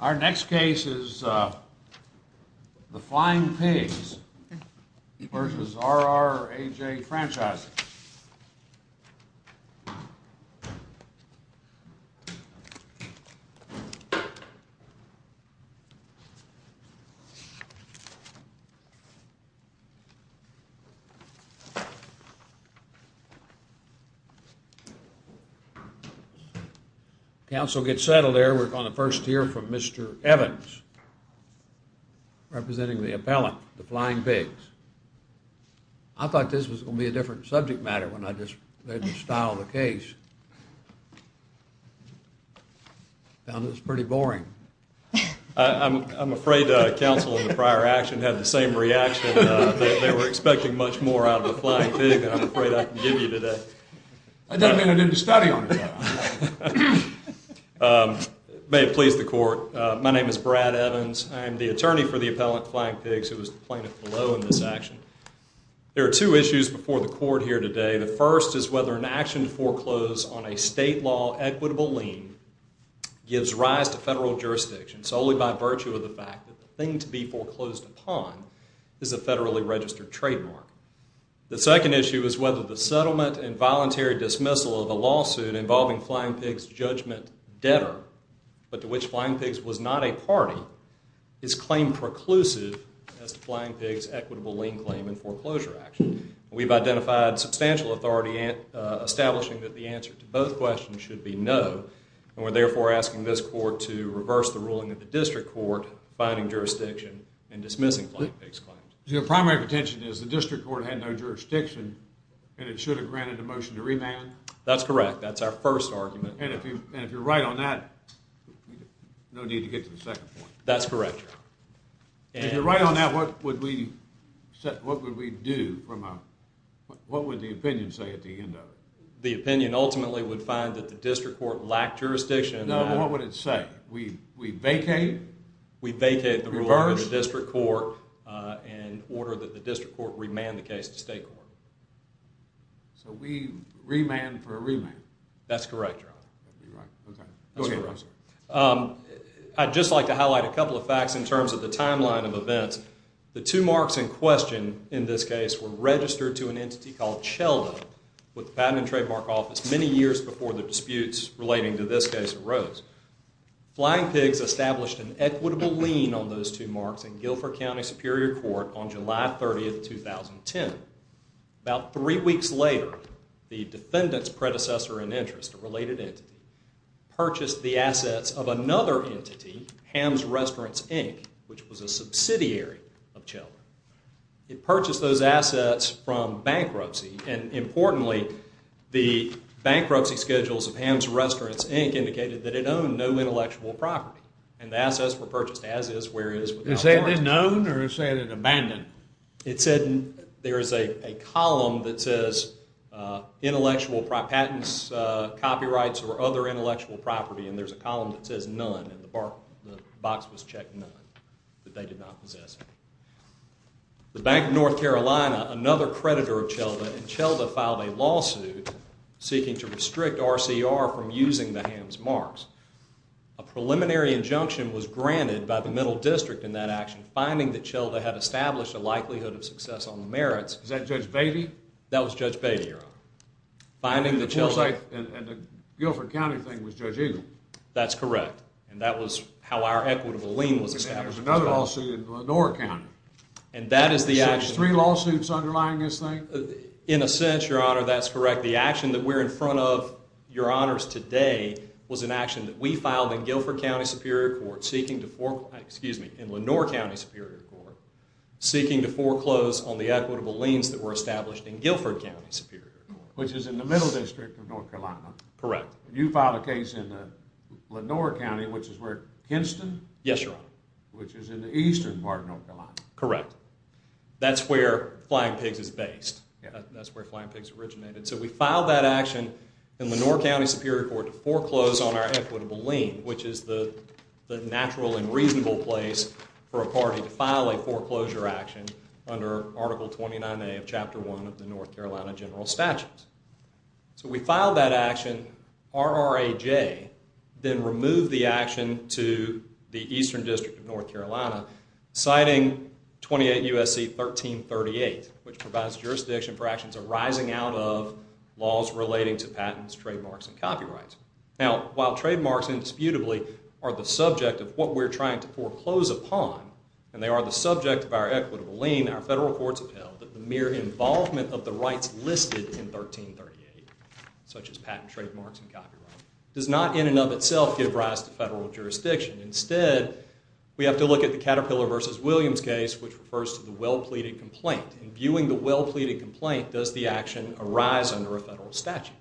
Our next case is the Flying Pigs v. RRAJ Franchising RRAJ Franchising, LLC RRAJ Franchising, LLC There are two issues before the court here today. The first is whether an action to foreclose on a state law equitable lien gives rise to federal jurisdiction solely by virtue of the fact that the thing to be foreclosed upon is a federally registered trademark. The second issue is whether the settlement and voluntary dismissal of a lawsuit involving Flying Pigs judgment debtor, but to which Flying Pigs was not a party, is claim preclusive as to Flying Pigs equitable lien claim in foreclosure action. We've identified substantial authority establishing that the answer to both questions should be no, and we're therefore asking this court to reverse the ruling of the district court finding jurisdiction and dismissing Flying Pigs claims. The primary contention is the district court had no jurisdiction, and it should have granted a motion to remand? That's correct. That's our first argument. And if you're right on that, no need to get to the second point. That's correct. If you're right on that, what would we do? What would the opinion say at the end of it? The opinion ultimately would find that the district court lacked jurisdiction. No, but what would it say? We vacate? We vacate the ruling of the district court in order that the district court remand the case to state court. So we remand for a remand? That's correct, Your Honor. Okay. I'd just like to highlight a couple of facts in terms of the timeline of events. The two marks in question in this case were registered to an entity called CHELDA with the Patent and Trademark Office many years before the disputes relating to this case arose. Flying Pigs established an equitable lien on those two marks in Guilford County Superior Court on July 30, 2010. About three weeks later, the defendant's predecessor in interest, a related entity, purchased the assets of another entity, Ham's Restaurants, Inc., which was a subsidiary of CHELDA. It purchased those assets from bankruptcy. And importantly, the bankruptcy schedules of Ham's Restaurants, Inc. indicated that it owned no intellectual property. And the assets were purchased as is, where is, without a warrant. Is that a known or is that an abandoned? It said there is a column that says intellectual patents, copyrights, or other intellectual property. And there's a column that says none. And the box was checked none, that they did not possess any. The Bank of North Carolina, another creditor of CHELDA, and CHELDA filed a lawsuit seeking to restrict RCR from using the Ham's marks. A preliminary injunction was granted by the Middle District in that action, finding that CHELDA had established a likelihood of success on the merits. Is that Judge Beatty? That was Judge Beatty, Your Honor. And the Guilford County thing was Judge Eagle? That's correct. And that was how our equitable lien was established. There was another lawsuit in Lenore County. And that is the action. Three lawsuits underlying this thing? In a sense, Your Honor, that's correct. The action that we're in front of, Your Honors, today was an action that we filed in Guilford County Superior Court seeking to foreclose, excuse me, in Lenore County Superior Court, seeking to foreclose on the equitable liens that were established in Guilford County Superior Court. Which is in the Middle District of North Carolina. Correct. And you filed a case in Lenore County, which is where, Kenston? Yes, Your Honor. Which is in the eastern part of North Carolina. Correct. That's where Flying Pigs is based. That's where Flying Pigs originated. So we filed that action in Lenore County Superior Court to foreclose on our equitable lien, which is the natural and reasonable place for a party to file a foreclosure action under Article 29A of Chapter 1 of the North Carolina General Statutes. So we filed that action, RRAJ, then removed the action to the eastern district of North Carolina, citing 28 U.S.C. 1338, which provides jurisdiction for actions arising out of laws relating to patents, trademarks, and copyrights. Now, while trademarks, indisputably, are the subject of what we're trying to foreclose upon, and they are the subject of our equitable lien, our federal courts have held that the mere involvement of the rights listed in 1338, such as patents, trademarks, and copyrights, does not in and of itself give rise to federal jurisdiction. Instead, we have to look at the Caterpillar v. Williams case, which refers to the well-pleaded complaint. In viewing the well-pleaded complaint, does the action arise under a federal statute?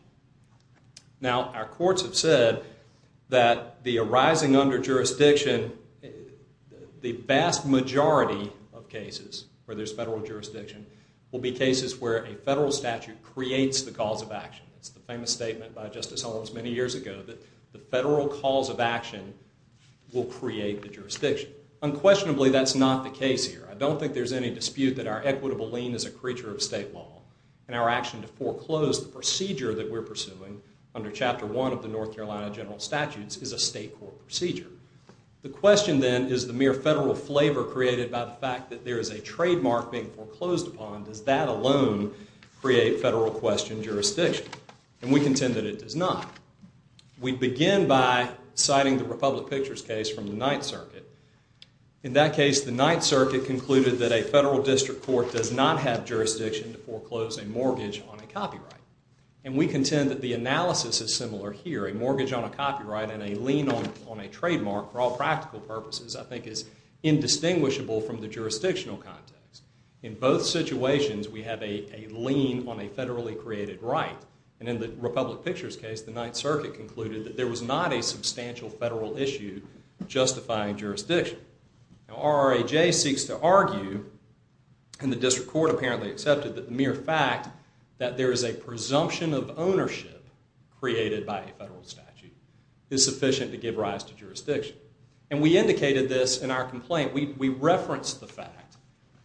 Now, our courts have said that the arising under jurisdiction, the vast majority of cases where there's federal jurisdiction, will be cases where a federal statute creates the cause of action. It's the famous statement by Justice Holmes many years ago that the federal cause of action will create the jurisdiction. Unquestionably, that's not the case here. I don't think there's any dispute that our equitable lien is a creature of state law, and our action to foreclose the procedure that we're pursuing under Chapter 1 of the North Carolina General Statutes is a state court procedure. The question, then, is the mere federal flavor created by the fact that there is a trademark being foreclosed upon, does that alone create federal question jurisdiction? And we contend that it does not. We begin by citing the Republic Pictures case from the Ninth Circuit. In that case, the Ninth Circuit concluded that a federal district court does not have jurisdiction to foreclose a mortgage on a copyright. And we contend that the analysis is similar here. A mortgage on a copyright and a lien on a trademark, for all practical purposes, I think is indistinguishable from the jurisdictional context. In both situations, we have a lien on a federally created right. And in the Republic Pictures case, the Ninth Circuit concluded that there was not a substantial federal issue justifying jurisdiction. Now, RRAJ seeks to argue, and the district court apparently accepted, that the mere fact that there is a presumption of ownership created by a federal statute is sufficient to give rise to jurisdiction. And we indicated this in our complaint. We referenced the fact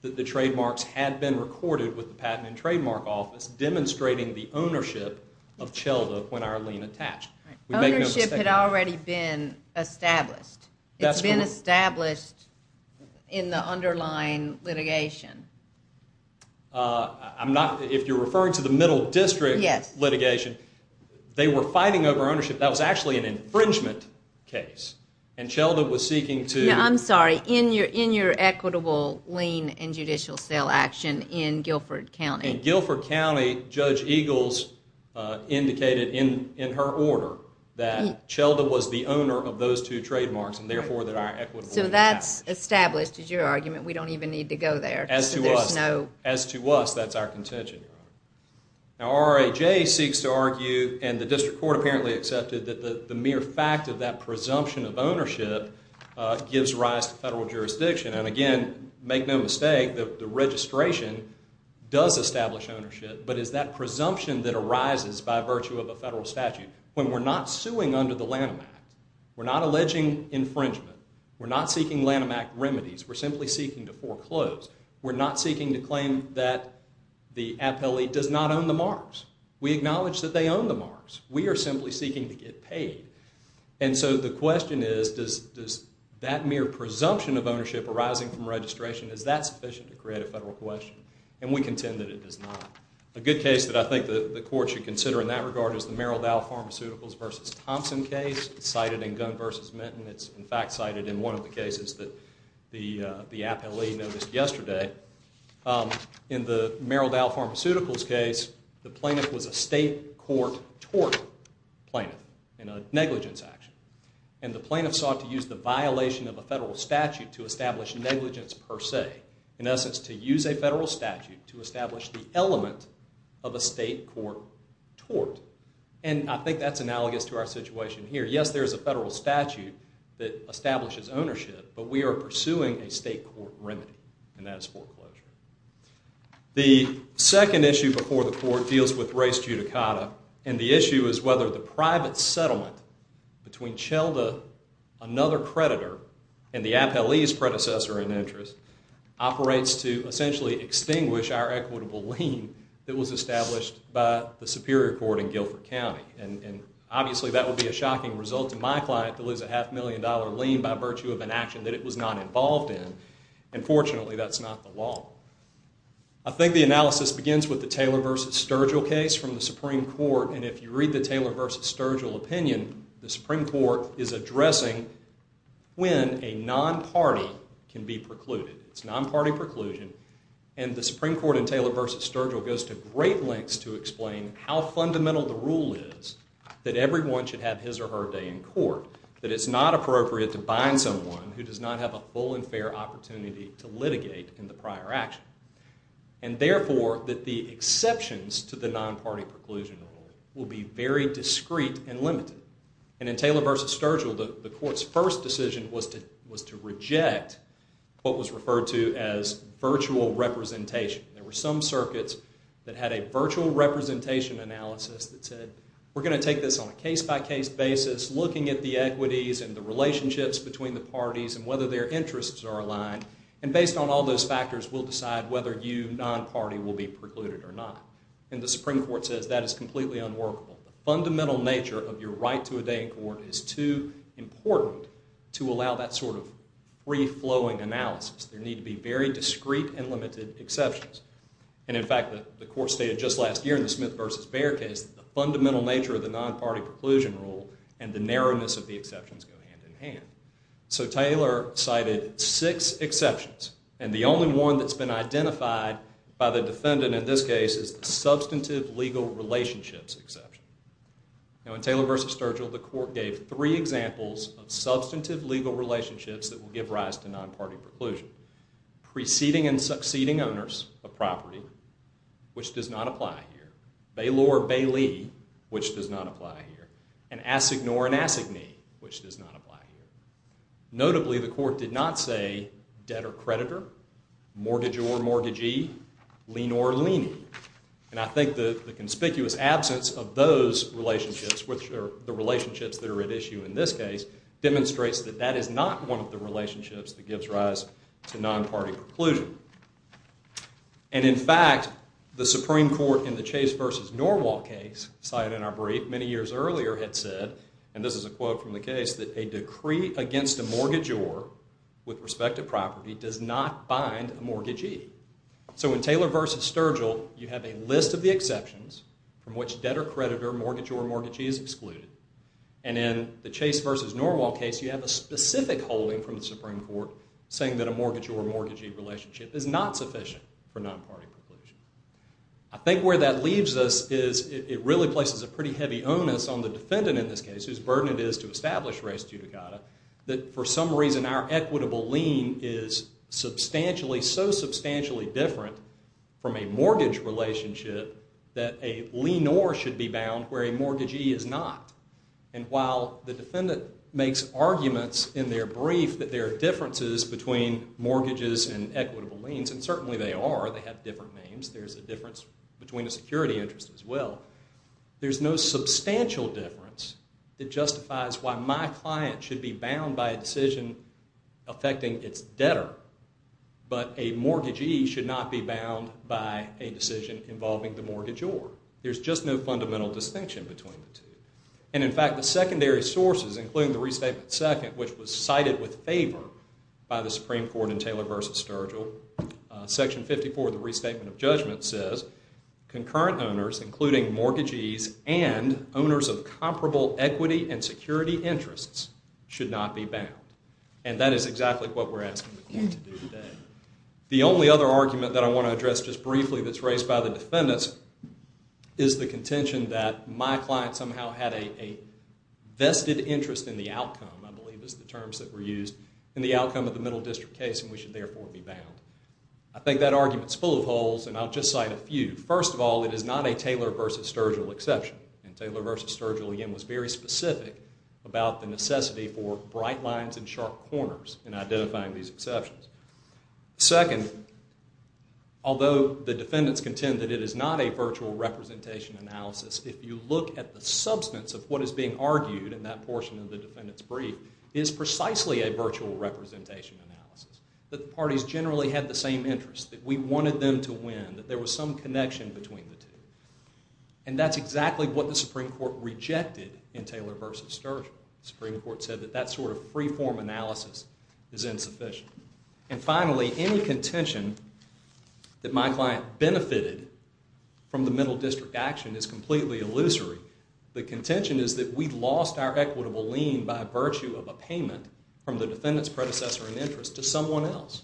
that the trademarks had been recorded with the Patent and Trademark Office, demonstrating the ownership of CHELDA when our lien attached. Ownership had already been established. It's been established in the underlying litigation. If you're referring to the middle district litigation, they were fighting over ownership. That was actually an infringement case. And CHELDA was seeking to— I'm sorry, in your equitable lien and judicial sale action in Guilford County. In Guilford County, Judge Eagles indicated in her order that CHELDA was the owner of those two trademarks, and therefore that our equitable— So that's established as your argument. We don't even need to go there. As to us, that's our contention. Now, RRAJ seeks to argue, and the district court apparently accepted, that the mere fact of that presumption of ownership gives rise to federal jurisdiction. And again, make no mistake, the registration does establish ownership, but it's that presumption that arises by virtue of a federal statute. When we're not suing under the Lanham Act, we're not alleging infringement. We're not seeking Lanham Act remedies. We're simply seeking to foreclose. We're not seeking to claim that the appellee does not own the marks. We acknowledge that they own the marks. We are simply seeking to get paid. And so the question is, does that mere presumption of ownership arising from registration, is that sufficient to create a federal question? And we contend that it is not. A good case that I think the court should consider in that regard is the Merrill Dow Pharmaceuticals v. Thompson case. It's cited in Gunn v. Minton. It's, in fact, cited in one of the cases that the appellee noticed yesterday. In the Merrill Dow Pharmaceuticals case, the plaintiff was a state court tort plaintiff in a negligence action. And the plaintiff sought to use the violation of a federal statute to establish negligence per se. In essence, to use a federal statute to establish the element of a state court tort. And I think that's analogous to our situation here. Yes, there is a federal statute that establishes ownership, but we are pursuing a state court remedy, and that is foreclosure. The second issue before the court deals with race judicata. And the issue is whether the private settlement between Chelda, another creditor, and the appellee's predecessor in interest, operates to essentially extinguish our equitable lien that was established by the Superior Court in Guilford County. And obviously, that would be a shocking result to my client to lose a half million dollar lien by virtue of an action that it was not involved in. And fortunately, that's not the law. I think the analysis begins with the Taylor v. Sturgill case from the Supreme Court. And if you read the Taylor v. Sturgill opinion, the Supreme Court is addressing when a non-party can be precluded. It's non-party preclusion. And the Supreme Court in Taylor v. Sturgill goes to great lengths to explain how fundamental the rule is that everyone should have his or her day in court, that it's not appropriate to bind someone who does not have a full and fair opportunity to litigate in the prior action. And therefore, that the exceptions to the non-party preclusion rule will be very discreet and limited. And in Taylor v. Sturgill, the court's first decision was to reject what was referred to as virtual representation. There were some circuits that had a virtual representation analysis that said, we're going to take this on a case-by-case basis, looking at the equities and the relationships between the parties and whether their interests are aligned. And based on all those factors, we'll decide whether you, non-party, will be precluded or not. And the Supreme Court says that is completely unworkable. The fundamental nature of your right to a day in court is too important to allow that sort of free-flowing analysis. There need to be very discreet and limited exceptions. And in fact, the court stated just last year in the Smith v. Bair case that the fundamental nature of the non-party preclusion rule and the narrowness of the exceptions go hand-in-hand. So Taylor cited six exceptions. And the only one that's been identified by the defendant in this case is the substantive legal relationships exception. Now, in Taylor v. Sturgill, the court gave three examples of substantive legal relationships that will give rise to non-party preclusion. Preceding and succeeding owners of property, which does not apply here. Bailor-bailee, which does not apply here. And assignor and assignee, which does not apply here. Notably, the court did not say debtor-creditor. Mortgageor-mortgagee. Leanor-leanee. And I think the conspicuous absence of those relationships, which are the relationships that are at issue in this case, demonstrates that that is not one of the relationships that gives rise to non-party preclusion. And in fact, the Supreme Court in the Chase v. Norwalk case cited in our brief many years earlier had said, and this is a quote from the case, that a decree against a mortgageor with respect to property does not bind a mortgagee. So in Taylor v. Sturgill, you have a list of the exceptions from which debtor-creditor, mortgageor-mortgagee is excluded. And in the Chase v. Norwalk case, you have a specific holding from the Supreme Court saying that a mortgageor-mortgagee relationship is not sufficient for non-party preclusion. I think where that leaves us is it really places a pretty heavy onus on the defendant in this case, whose burden it is to establish res judicata, that for some reason our equitable lien is substantially, so substantially different from a mortgage relationship that a lienor should be bound where a mortgagee is not. And while the defendant makes arguments in their brief that there are differences between mortgages and equitable liens, and certainly they are, they have different names, there's a difference between a security interest as well, there's no substantial difference that justifies why my client should be bound by a decision affecting its debtor, but a mortgagee should not be bound by a decision involving the mortgageor. There's just no fundamental distinction between the two. And in fact, the secondary sources, including the Restatement II, which was cited with favor by the Supreme Court in Taylor v. Sturgill, Section 54 of the Restatement of Judgment says concurrent owners, including mortgagees and owners of comparable equity and security interests, should not be bound. And that is exactly what we're asking the court to do today. The only other argument that I want to address just briefly that's raised by the defendants is the contention that my client somehow had a vested interest in the outcome, I believe is the terms that were used, in the outcome of the Middle District case, and we should therefore be bound. I think that argument's full of holes, and I'll just cite a few. First of all, it is not a Taylor v. Sturgill exception. And Taylor v. Sturgill, again, was very specific about the necessity for bright lines and sharp corners in identifying these exceptions. Second, although the defendants contend that it is not a virtual representation analysis, if you look at the substance of what is being argued in that portion of the defendant's brief, it is precisely a virtual representation analysis, that the parties generally had the same interests, that we wanted them to win, that there was some connection between the two. And that's exactly what the Supreme Court rejected in Taylor v. Sturgill. The Supreme Court said that that sort of free-form analysis is insufficient. And finally, any contention that my client benefited from the Middle District action is completely illusory. The contention is that we lost our equitable lien by virtue of a payment from the defendant's predecessor in interest to someone else.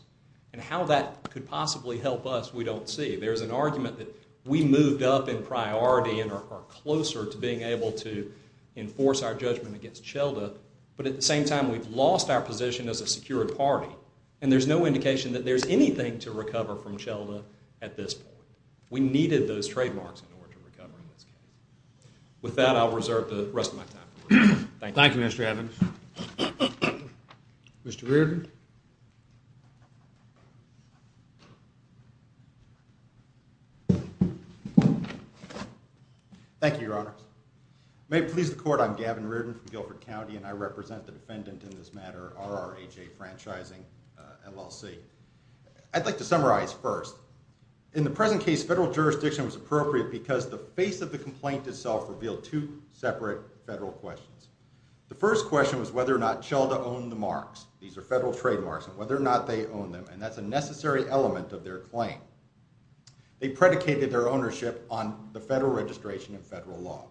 And how that could possibly help us, we don't see. There's an argument that we moved up in priority and are closer to being able to enforce our judgment against Shelda. But at the same time, we've lost our position as a secured party. And there's no indication that there's anything to recover from Shelda at this point. We needed those trademarks in order to recover in this case. With that, I'll reserve the rest of my time. Thank you. Thank you, Mr. Evans. Mr. Reardon? Thank you, Your Honors. May it please the Court, I'm Gavin Reardon from Guilford County, and I represent the defendant in this matter, R.R.A.J. Franchising, LLC. I'd like to summarize first. In the present case, federal jurisdiction was appropriate because the face of the complaint itself revealed two separate federal questions. The first question was whether or not Shelda owned the marks. These are federal trademarks, and whether or not they owned them. And that's a necessary element of their claim. They predicated their ownership on the federal registration and federal law.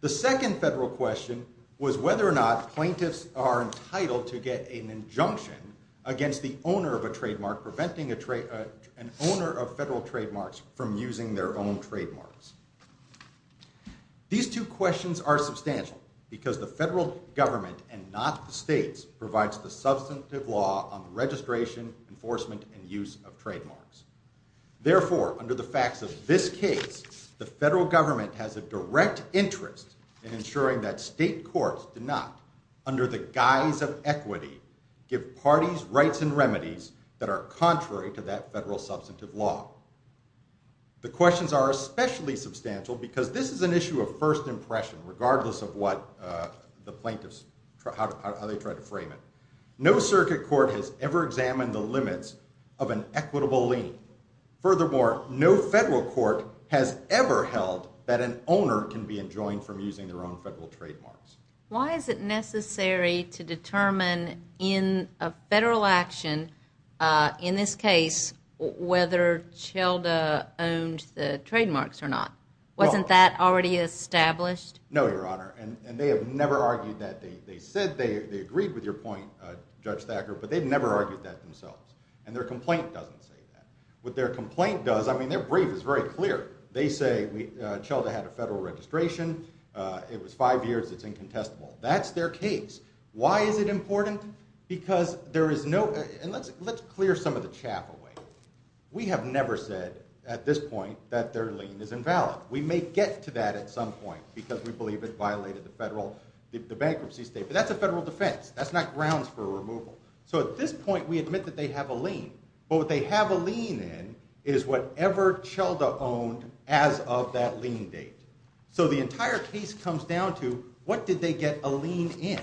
The second federal question was whether or not plaintiffs are entitled to get an injunction against the owner of a trademark, preventing an owner of federal trademarks from using their own trademarks. These two questions are substantial because the federal government and not the states provides the substantive law on the registration, enforcement, and use of trademarks. Therefore, under the facts of this case, the federal government has a direct interest in ensuring that state courts do not, under the guise of equity, give parties rights and remedies that are contrary to that federal substantive law. The questions are especially substantial because this is an issue of first impression, regardless of what the plaintiffs, how they try to frame it. No circuit court has ever examined the limits of an equitable lien. Furthermore, no federal court has ever held that an owner can be enjoined from using their own federal trademarks. Why is it necessary to determine in a federal action, in this case, whether Shelda owned the trademarks or not? Wasn't that already established? No, Your Honor, and they have never argued that. They said they agreed with your point, Judge Thacker, but they've never argued that themselves, and their complaint doesn't say that. What their complaint does, I mean, their brief is very clear. They say Shelda had a federal registration. It was five years. It's incontestable. That's their case. Why is it important? Because there is no, and let's clear some of the chaff away. We have never said, at this point, that their lien is invalid. We may get to that at some point, because we believe it violated the bankruptcy statement. That's a federal defense. That's not grounds for removal. So at this point, we admit that they have a lien, but what they have a lien in is whatever Shelda owned as of that lien date. So the entire case comes down to, what did they get a lien in?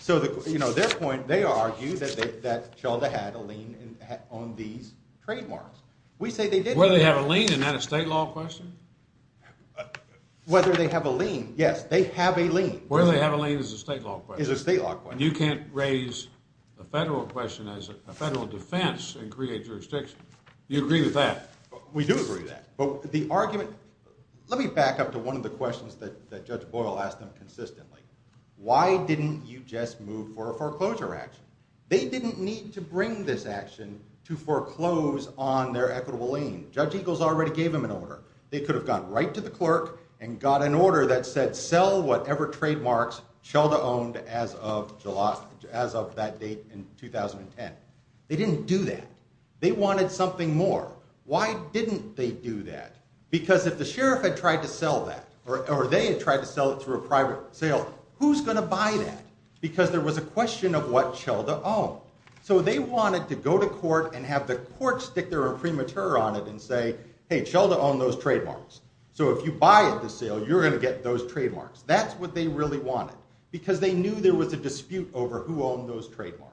So their point, they argue that Shelda had a lien on these trademarks. We say they didn't. Whether they have a lien, isn't that a state law question? Whether they have a lien, yes, they have a lien. Whether they have a lien is a state law question. Is a state law question. You can't raise a federal question as a federal defense and create jurisdiction. You agree with that? We do agree with that. But the argument, let me back up to one of the questions that Judge Boyle asked them consistently. Why didn't you just move for a foreclosure action? They didn't need to bring this action to foreclose on their equitable lien. Judge Eagles already gave them an order. They could have gone right to the clerk and got an order that said, sell whatever trademarks Shelda owned as of that date in 2010. They didn't do that. They wanted something more. Why didn't they do that? Because if the sheriff had tried to sell that, or they had tried to sell it through a private sale, who's going to buy that? Because there was a question of what Shelda owned. So they wanted to go to court and have the court stick their imprimatur on it and say, hey, Shelda owned those trademarks. So if you buy at the sale, you're going to get those trademarks. That's what they really wanted because they knew there was a dispute over who owned those trademarks.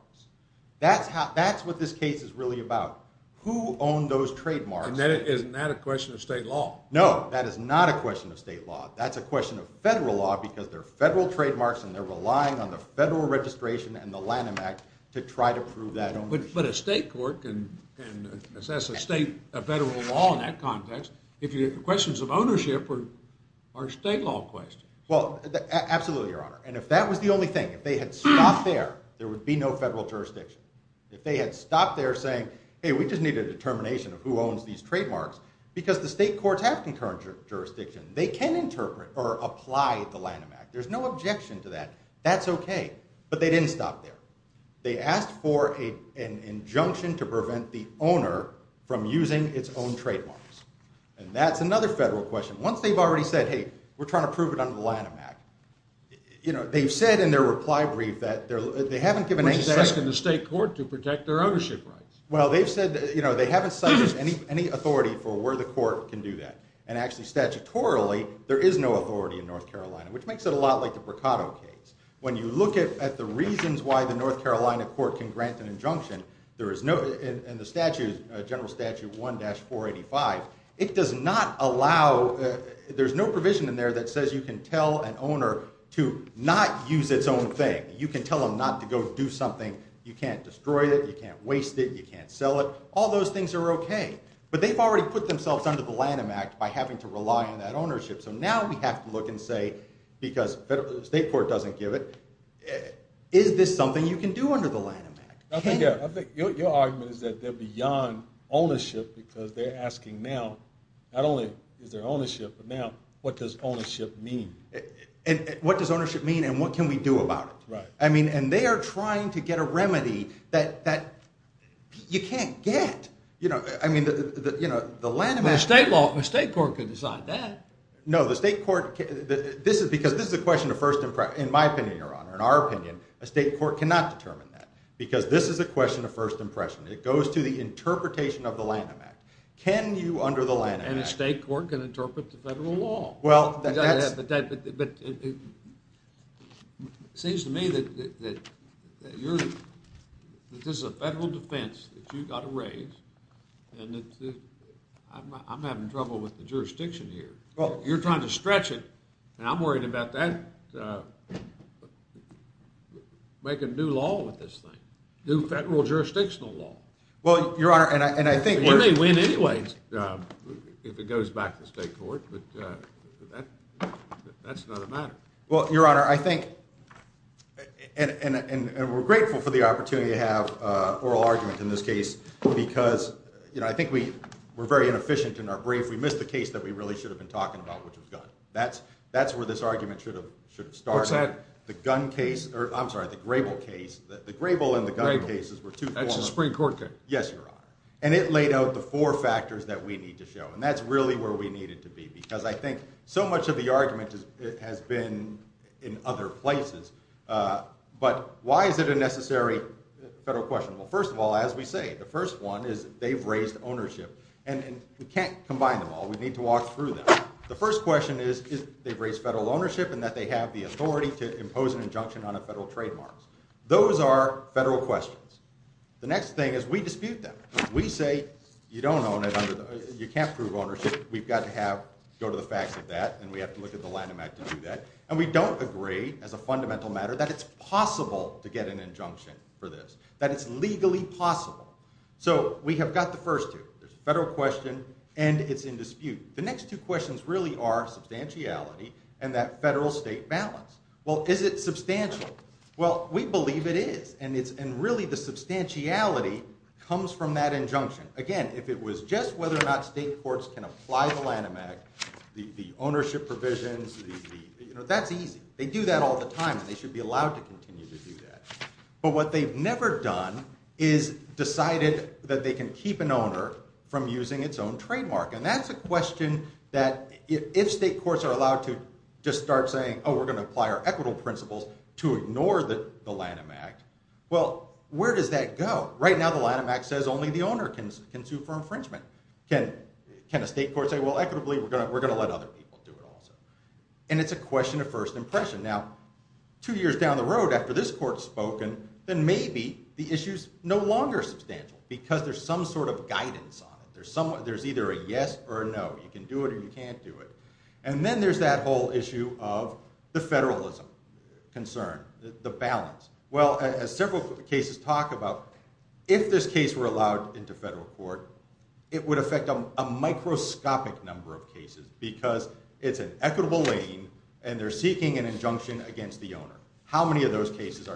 That's what this case is really about, who owned those trademarks. Isn't that a question of state law? No, that is not a question of state law. That's a question of federal law because they're federal trademarks and they're relying on the Federal Registration and the Lanham Act to try to prove that ownership. But a state court can assess a state federal law in that context if your questions of ownership are state law questions. Well, absolutely, Your Honor. And if that was the only thing, if they had stopped there, there would be no federal jurisdiction. If they had stopped there saying, hey, we just need a determination of who owns these trademarks, because the state courts have concurrent jurisdiction. They can interpret or apply the Lanham Act. There's no objection to that. That's okay. But they didn't stop there. They asked for an injunction to prevent the owner from using its own trademarks. And that's another federal question. Once they've already said, hey, we're trying to prove it under the Lanham Act, you know, they've said in their reply brief that they haven't given any— Which is asking the state court to protect their ownership rights. Well, they've said they haven't cited any authority for where the court can do that. And actually, statutorily, there is no authority in North Carolina, which makes it a lot like the Bricado case. When you look at the reasons why the North Carolina court can grant an injunction, in the general statute 1-485, it does not allow— there's no provision in there that says you can tell an owner to not use its own thing. You can tell them not to go do something. You can't destroy it. You can't waste it. You can't sell it. All those things are okay. But they've already put themselves under the Lanham Act by having to rely on that ownership. So now we have to look and say, because the state court doesn't give it, is this something you can do under the Lanham Act? Your argument is that they're beyond ownership because they're asking now, not only is there ownership, but now what does ownership mean? What does ownership mean and what can we do about it? I mean, and they are trying to get a remedy that you can't get. I mean, the Lanham Act— The state court can decide that. No, the state court—this is because this is a question of first— in my opinion, Your Honor, in our opinion, a state court cannot determine that because this is a question of first impression. It goes to the interpretation of the Lanham Act. Can you under the Lanham Act— And a state court can interpret the federal law. But it seems to me that this is a federal defense that you've got to raise and I'm having trouble with the jurisdiction here. You're trying to stretch it, and I'm worried about that— making new law with this thing, new federal jurisdictional law. Well, Your Honor, and I think— That's another matter. Well, Your Honor, I think— and we're grateful for the opportunity to have oral argument in this case because, you know, I think we were very inefficient in our brief. We missed the case that we really should have been talking about, which was gun. That's where this argument should have started. What's that? The gun case—I'm sorry, the Grable case. The Grable and the gun cases were two— That's the Supreme Court case. Yes, Your Honor. And it laid out the four factors that we need to show, and that's really where we need it to be because I think so much of the argument has been in other places. But why is it a necessary federal question? Well, first of all, as we say, the first one is they've raised ownership. And we can't combine them all. We need to walk through them. The first question is they've raised federal ownership and that they have the authority to impose an injunction on a federal trademark. Those are federal questions. The next thing is we dispute them. We say you can't prove ownership. We've got to go to the facts of that, and we have to look at the Lanham Act to do that. And we don't agree, as a fundamental matter, that it's possible to get an injunction for this, that it's legally possible. So we have got the first two. There's a federal question, and it's in dispute. The next two questions really are substantiality and that federal-state balance. Well, is it substantial? Well, we believe it is. And really the substantiality comes from that injunction. Again, if it was just whether or not state courts can apply the Lanham Act, the ownership provisions, that's easy. They do that all the time, and they should be allowed to continue to do that. But what they've never done is decided that they can keep an owner from using its own trademark. And that's a question that if state courts are allowed to just start saying, oh, we're going to apply our equitable principles to ignore the Lanham Act, well, where does that go? Right now the Lanham Act says only the owner can sue for infringement. Can a state court say, well, equitably we're going to let other people do it also? And it's a question of first impression. Now, two years down the road after this court has spoken, then maybe the issue is no longer substantial because there's some sort of guidance on it. There's either a yes or a no. You can do it or you can't do it. And then there's that whole issue of the federalism concern, the balance. Well, as several cases talk about, if this case were allowed into federal court, it would affect a microscopic number of cases because it's an equitable lane and they're seeking an injunction against the owner. How many of those cases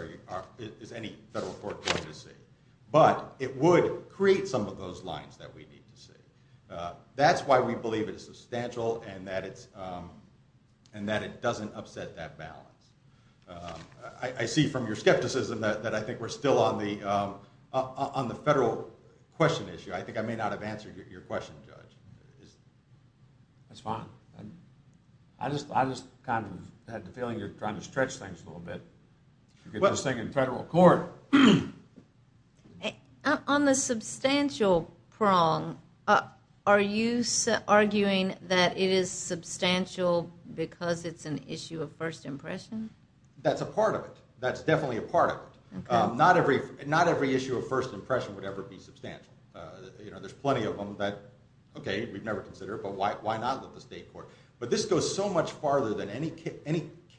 is any federal court going to see? But it would create some of those lines that we need to see. That's why we believe it is substantial and that it doesn't upset that balance. I see from your skepticism that I think we're still on the federal question issue. I think I may not have answered your question, Judge. That's fine. I just kind of had the feeling you're trying to stretch things a little bit. You're getting this thing in federal court. On the substantial prong, are you arguing that it is substantial because it's an issue of first impression? That's a part of it. That's definitely a part of it. Not every issue of first impression would ever be substantial. There's plenty of them that, okay, we've never considered, but why not let the state court? But this goes so much farther than any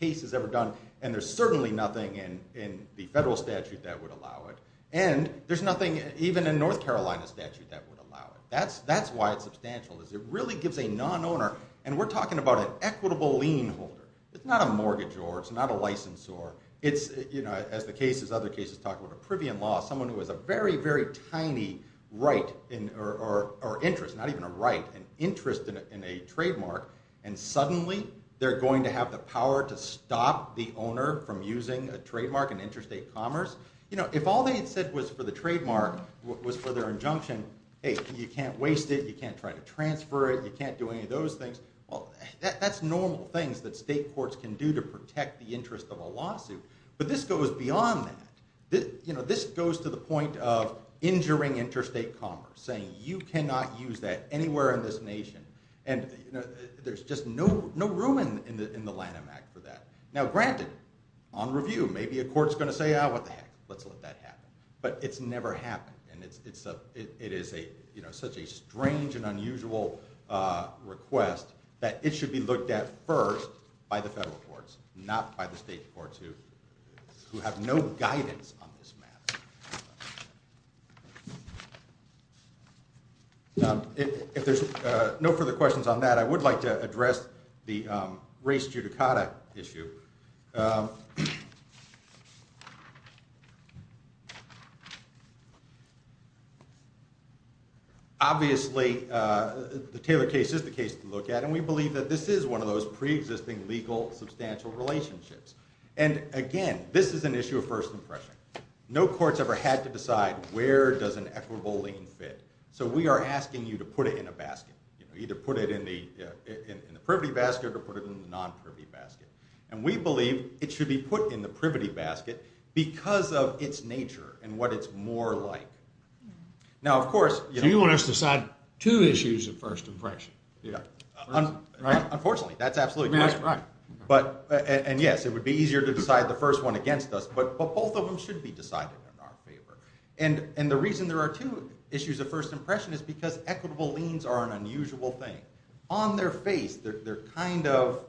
case has ever done, and there's certainly nothing in the federal statute that would allow it, and there's nothing even in North Carolina statute that would allow it. That's why it's substantial, is it really gives a non-owner, and we're talking about an equitable lien holder. It's not a mortgagor. It's not a licensor. As other cases talk about a privy in law, someone who has a very, very tiny right or interest, not even a right, an interest in a trademark, and suddenly they're going to have the power to stop the owner from using a trademark in interstate commerce. If all they had said was for the trademark was for their injunction, hey, you can't waste it, you can't try to transfer it, you can't do any of those things, well, that's normal things that state courts can do to protect the interest of a lawsuit, but this goes beyond that. This goes to the point of injuring interstate commerce, saying you cannot use that anywhere in this nation. And there's just no room in the Lanham Act for that. Now, granted, on review, maybe a court's going to say, ah, what the heck, let's let that happen. But it's never happened, and it is such a strange and unusual request that it should be looked at first by the federal courts, not by the state courts who have no guidance on this matter. If there's no further questions on that, I would like to address the race judicata issue. Obviously, the Taylor case is the case to look at, and we believe that this is one of those preexisting legal substantial relationships. And, again, this is an issue of first impression. No court's ever had to decide where does an equitable lien fit. So we are asking you to put it in a basket, either put it in the privity basket or put it in the non-privity basket. And we believe it should be put in the privity basket because of its nature and what it's more like. Now, of course— So you want us to decide two issues of first impression? Unfortunately, that's absolutely correct. And, yes, it would be easier to decide the first one against us, but both of them should be decided in our favor. And the reason there are two issues of first impression is because equitable liens are an unusual thing. On their face, they're kind of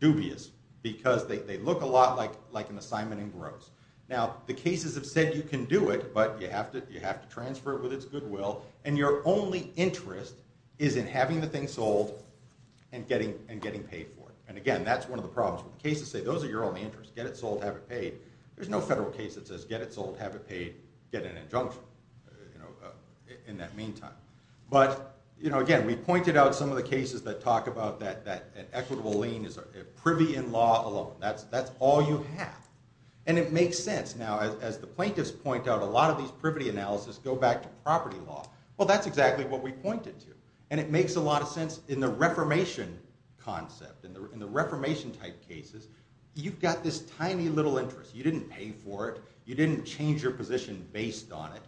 dubious because they look a lot like an assignment in gross. Now, the cases have said you can do it, but you have to transfer it with its goodwill, and your only interest is in having the thing sold and getting paid for it. And, again, that's one of the problems. Cases say those are your only interests. Get it sold, have it paid. There's no federal case that says get it sold, have it paid, get an injunction in that meantime. But, again, we pointed out some of the cases that talk about that an equitable lien is a privy in law alone. That's all you have. And it makes sense. Now, as the plaintiffs point out, a lot of these privity analyses go back to property law. Well, that's exactly what we pointed to. And it makes a lot of sense in the Reformation concept, in the Reformation type cases. You've got this tiny little interest. You didn't pay for it. You didn't change your position based on it.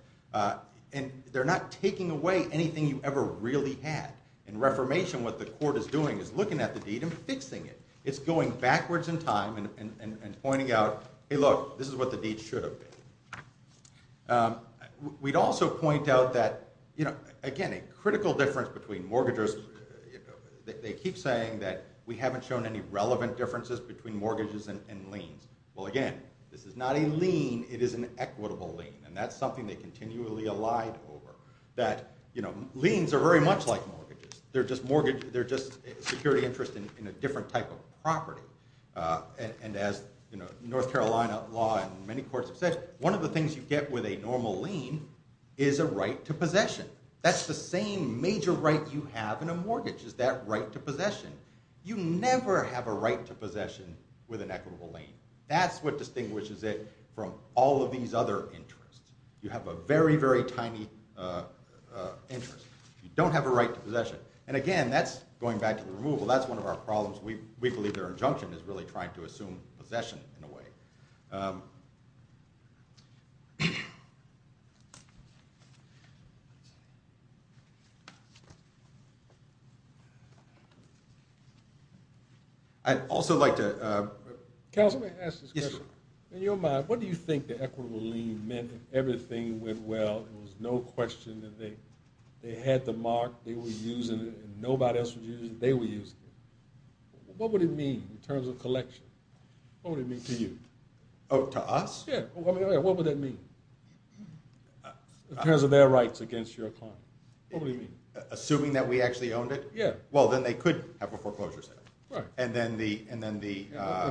And they're not taking away anything you ever really had. In Reformation, what the court is doing is looking at the deed and fixing it. It's going backwards in time and pointing out, hey, look, this is what the deed should have been. We'd also point out that, again, a critical difference between mortgages. They keep saying that we haven't shown any relevant differences between mortgages and liens. Well, again, this is not a lien. It is an equitable lien. And that's something they continually allied over, that liens are very much like mortgages. They're just security interest in a different type of property. And as North Carolina law and many courts have said, one of the things you get with a normal lien is a right to possession. That's the same major right you have in a mortgage is that right to possession. You never have a right to possession with an equitable lien. That's what distinguishes it from all of these other interests. You have a very, very tiny interest. You don't have a right to possession. And, again, that's going back to the removal. That's one of our problems. We believe their injunction is really trying to assume possession in a way. I'd also like to ask this question. In your mind, what do you think the equitable lien meant? If everything went well, there was no question that they had the mark, they were using it, and nobody else was using it, they were using it. What would it mean in terms of collection? What would it mean to you? Oh, to us? Yeah. What would that mean in terms of their rights against your client? What would it mean? Assuming that we actually owned it? Yeah. Well, then they could have a foreclosure sale. Right. And then the—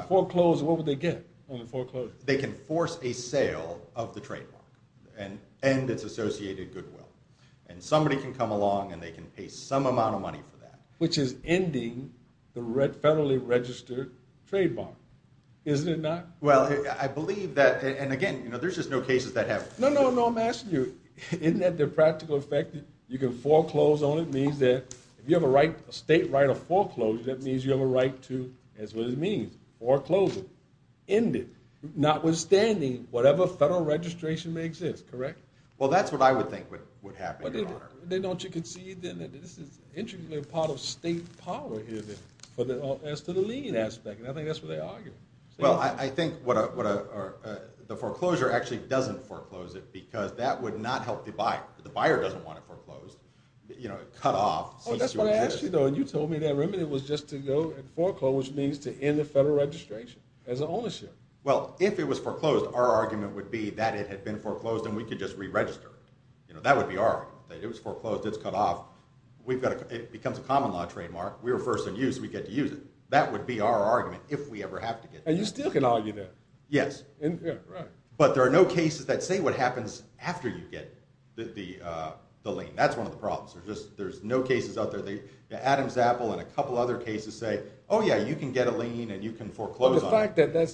What would they get on the foreclosure? They can force a sale of the trademark and end its associated goodwill. And somebody can come along and they can pay some amount of money for that. Which is ending the federally registered trademark, isn't it not? Well, I believe that—and, again, there's just no cases that have— No, no, no. I'm asking you, isn't that their practical effect? You can foreclose on it. It means that if you have a state right of foreclosure, that means you have a right to—that's what it means. Foreclosure. End it. Notwithstanding whatever federal registration may exist, correct? Well, that's what I would think would happen, Your Honor. Then don't you concede, then, that this is interestingly a part of state power here, then, as to the lien aspect? And I think that's what they argue. Well, I think the foreclosure actually doesn't foreclose it because that would not help the buyer. The buyer doesn't want it foreclosed. You know, cut off, cease to exist. Oh, that's what I asked you, though, and you told me that remedy was just to go and foreclose, which means to end the federal registration as an ownership. Well, if it was foreclosed, our argument would be that it had been foreclosed and we could just re-register it. That would be our argument, that it was foreclosed. It's cut off. It becomes a common law trademark. We were first in use. We get to use it. That would be our argument if we ever have to get that. And you still can argue that. Yes. Right. But there are no cases that say what happens after you get the lien. That's one of the problems. There's no cases out there. The fact that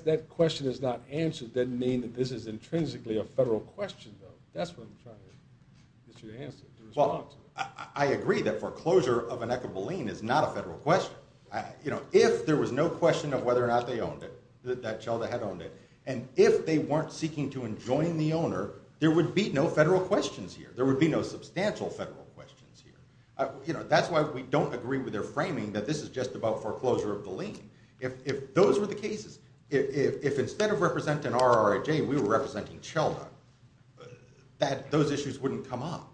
that question is not answered doesn't mean that this is intrinsically a federal question, though. That's what I'm trying to get you to answer, to respond to. Well, I agree that foreclosure of a neck of a lien is not a federal question. You know, if there was no question of whether or not they owned it, that child had owned it, and if they weren't seeking to enjoin the owner, there would be no federal questions here. There would be no substantial federal questions here. You know, that's why we don't agree with their framing that this is just about foreclosure of the lien. If those were the cases, if instead of representing RRIJ we were representing CHELDA, those issues wouldn't come up.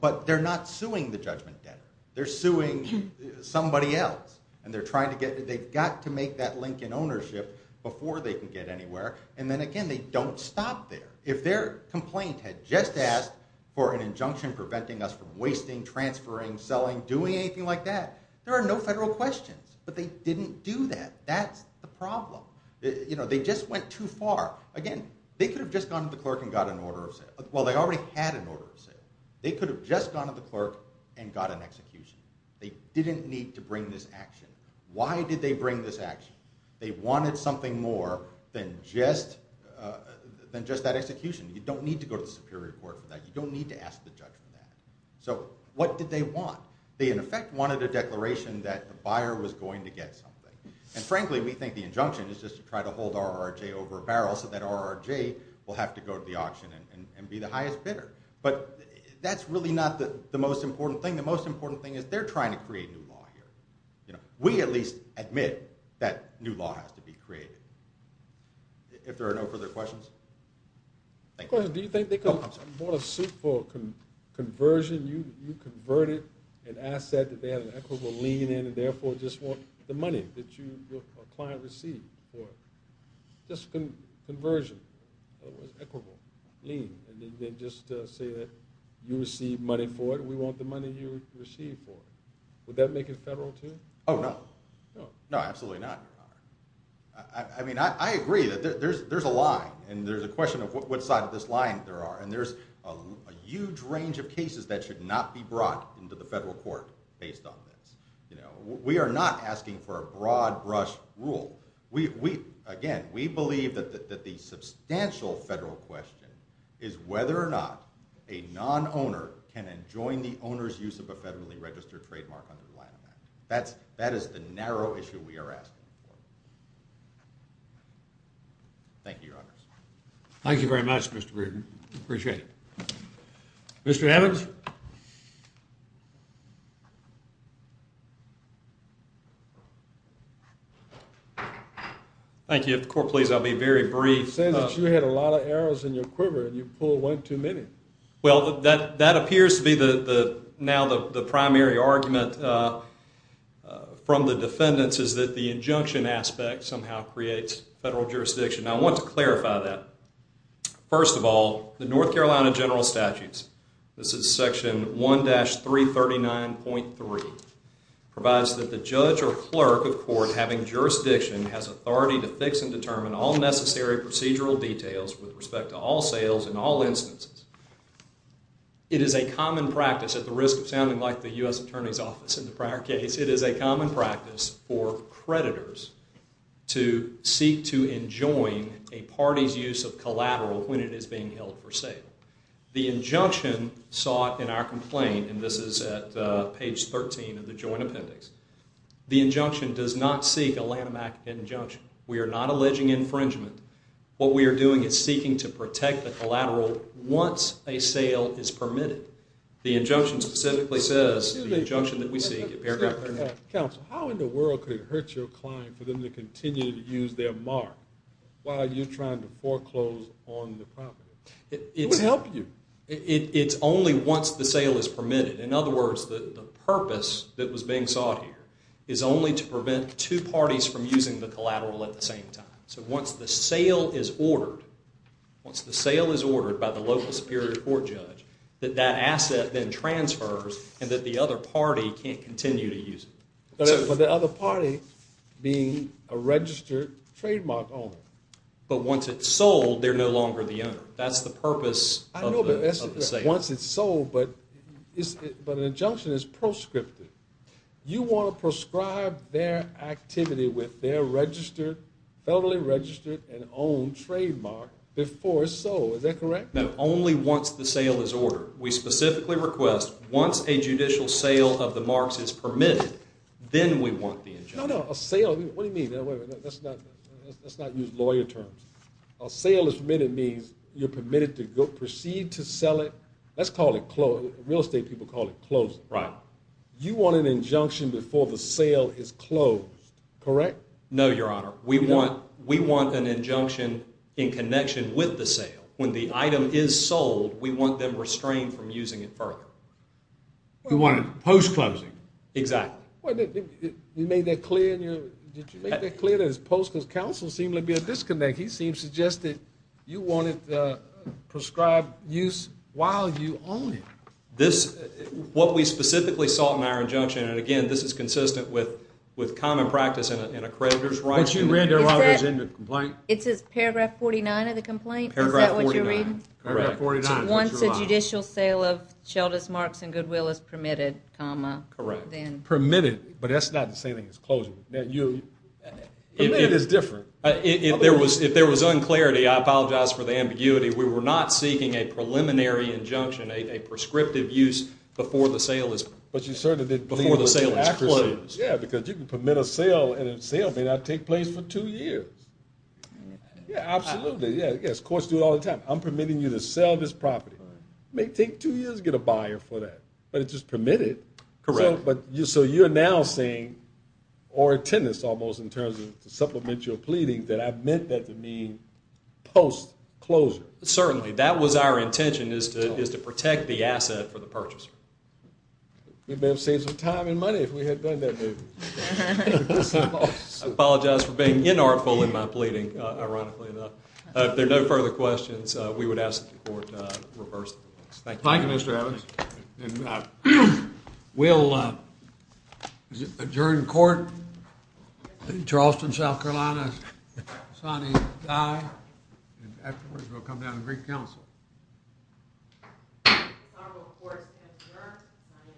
But they're not suing the judgment debtor. They're suing somebody else, and they've got to make that link in ownership before they can get anywhere. And then, again, they don't stop there. If their complaint had just asked for an injunction preventing us from wasting, transferring, selling, doing anything like that, there are no federal questions. But they didn't do that. That's the problem. You know, they just went too far. Again, they could have just gone to the clerk and got an order of sale. Well, they already had an order of sale. They could have just gone to the clerk and got an execution. They didn't need to bring this action. Why did they bring this action? They wanted something more than just that execution. You don't need to go to the superior court for that. You don't need to ask the judge for that. So what did they want? They, in effect, wanted a declaration that the buyer was going to get something. And, frankly, we think the injunction is just to try to hold RRJ over a barrel so that RRJ will have to go to the auction and be the highest bidder. But that's really not the most important thing. The most important thing is they're trying to create new law here. You know, we at least admit that new law has to be created. If there are no further questions, thank you. I have a question. Do you think they could have bought a suit for conversion? You converted an asset that they had an equitable lien in and, therefore, just want the money that your client received for it. Just conversion. Equitable lien. And they just say that you received money for it and we want the money you received for it. Would that make it federal, too? Oh, no. No, absolutely not, Your Honor. I mean, I agree that there's a lie. And there's a question of what side of this line there are. And there's a huge range of cases that should not be brought into the federal court based on this. You know, we are not asking for a broad-brush rule. Again, we believe that the substantial federal question is whether or not a non-owner can enjoin the owner's use of a federally registered trademark under the Lanham Act. That is the narrow issue we are asking for. Thank you, Your Honor. Thank you very much, Mr. Breeden. I appreciate it. Mr. Evans? Thank you. If the court please, I'll be very brief. You said that you had a lot of arrows in your quiver and you pulled one too many. Well, that appears to be now the primary argument from the defendants is that the injunction aspect somehow creates federal jurisdiction. I want to clarify that. First of all, the North Carolina General Statutes, this is section 1-339.3, provides that the judge or clerk of court having jurisdiction has authority to fix and determine all necessary procedural details with respect to all sales in all instances. It is a common practice, at the risk of sounding like the U.S. Attorney's Office in the prior case, it is a common practice for creditors to seek to enjoin a party's use of collateral when it is being held for sale. The injunction sought in our complaint, and this is at page 13 of the Joint Appendix, the injunction does not seek a Lanham Act injunction. We are not alleging infringement. What we are doing is seeking to protect the collateral once a sale is permitted. The injunction specifically says, the injunction that we seek in paragraph 13. Counsel, how in the world could it hurt your client for them to continue to use their mark while you're trying to foreclose on the property? It would help you. It's only once the sale is permitted. In other words, the purpose that was being sought here is only to prevent two parties from using the collateral at the same time. So once the sale is ordered, once the sale is ordered by the local Superior Court judge, that that asset then transfers and that the other party can't continue to use it. But the other party being a registered trademark owner. But once it's sold, they're no longer the owner. That's the purpose of the sale. Once it's sold, but an injunction is proscriptive. You want to prescribe their activity with their registered, federally registered and owned trademark before it's sold. Is that correct? No, only once the sale is ordered. We specifically request once a judicial sale of the marks is permitted, then we want the injunction. No, no, a sale, what do you mean? Let's not use lawyer terms. A sale is permitted means you're permitted to proceed to sell it. Let's call it closed. Real estate people call it closed. Right. You want an injunction before the sale is closed, correct? No, Your Honor. We want an injunction in connection with the sale. When the item is sold, we want them restrained from using it further. You want it post-closing. Exactly. You made that clear in your, did you make that clear in his post? Because counsel seemed to be at a disconnect. He seems to suggest that you want it prescribed use while you own it. This, what we specifically saw in our injunction, and, again, this is consistent with common practice in a creditor's right. But you read it while it was in the complaint? It says paragraph 49 of the complaint? Is that what you're reading? Correct. Once a judicial sale of Shelders, Marks, and Goodwill is permitted, comma. Correct. Permitted, but that's not the same thing as closing. It is different. If there was unclarity, I apologize for the ambiguity. We were not seeking a preliminary injunction, a prescriptive use before the sale is closed. But you certainly didn't believe it was accuracy. Yeah, because you can permit a sale, and a sale may not take place for two years. Yeah, absolutely. Yes, courts do it all the time. I'm permitting you to sell this property. It may take two years to get a buyer for that, but it's just permitted. Correct. So you're now saying, or a tenant almost in terms of the supplemental pleading, that I meant that to mean post-closure. Certainly. That was our intention is to protect the asset for the purchaser. We may have saved some time and money if we had done that move. I apologize for being inartful in my pleading, ironically enough. If there are no further questions, we would ask the court to reverse the bill. Thank you. Thank you, Mr. Evans. We'll adjourn court. Charleston, South Carolina, Sonny Dye. Afterwards, we'll come down to Greek Council. Congress will, of course, adjourn.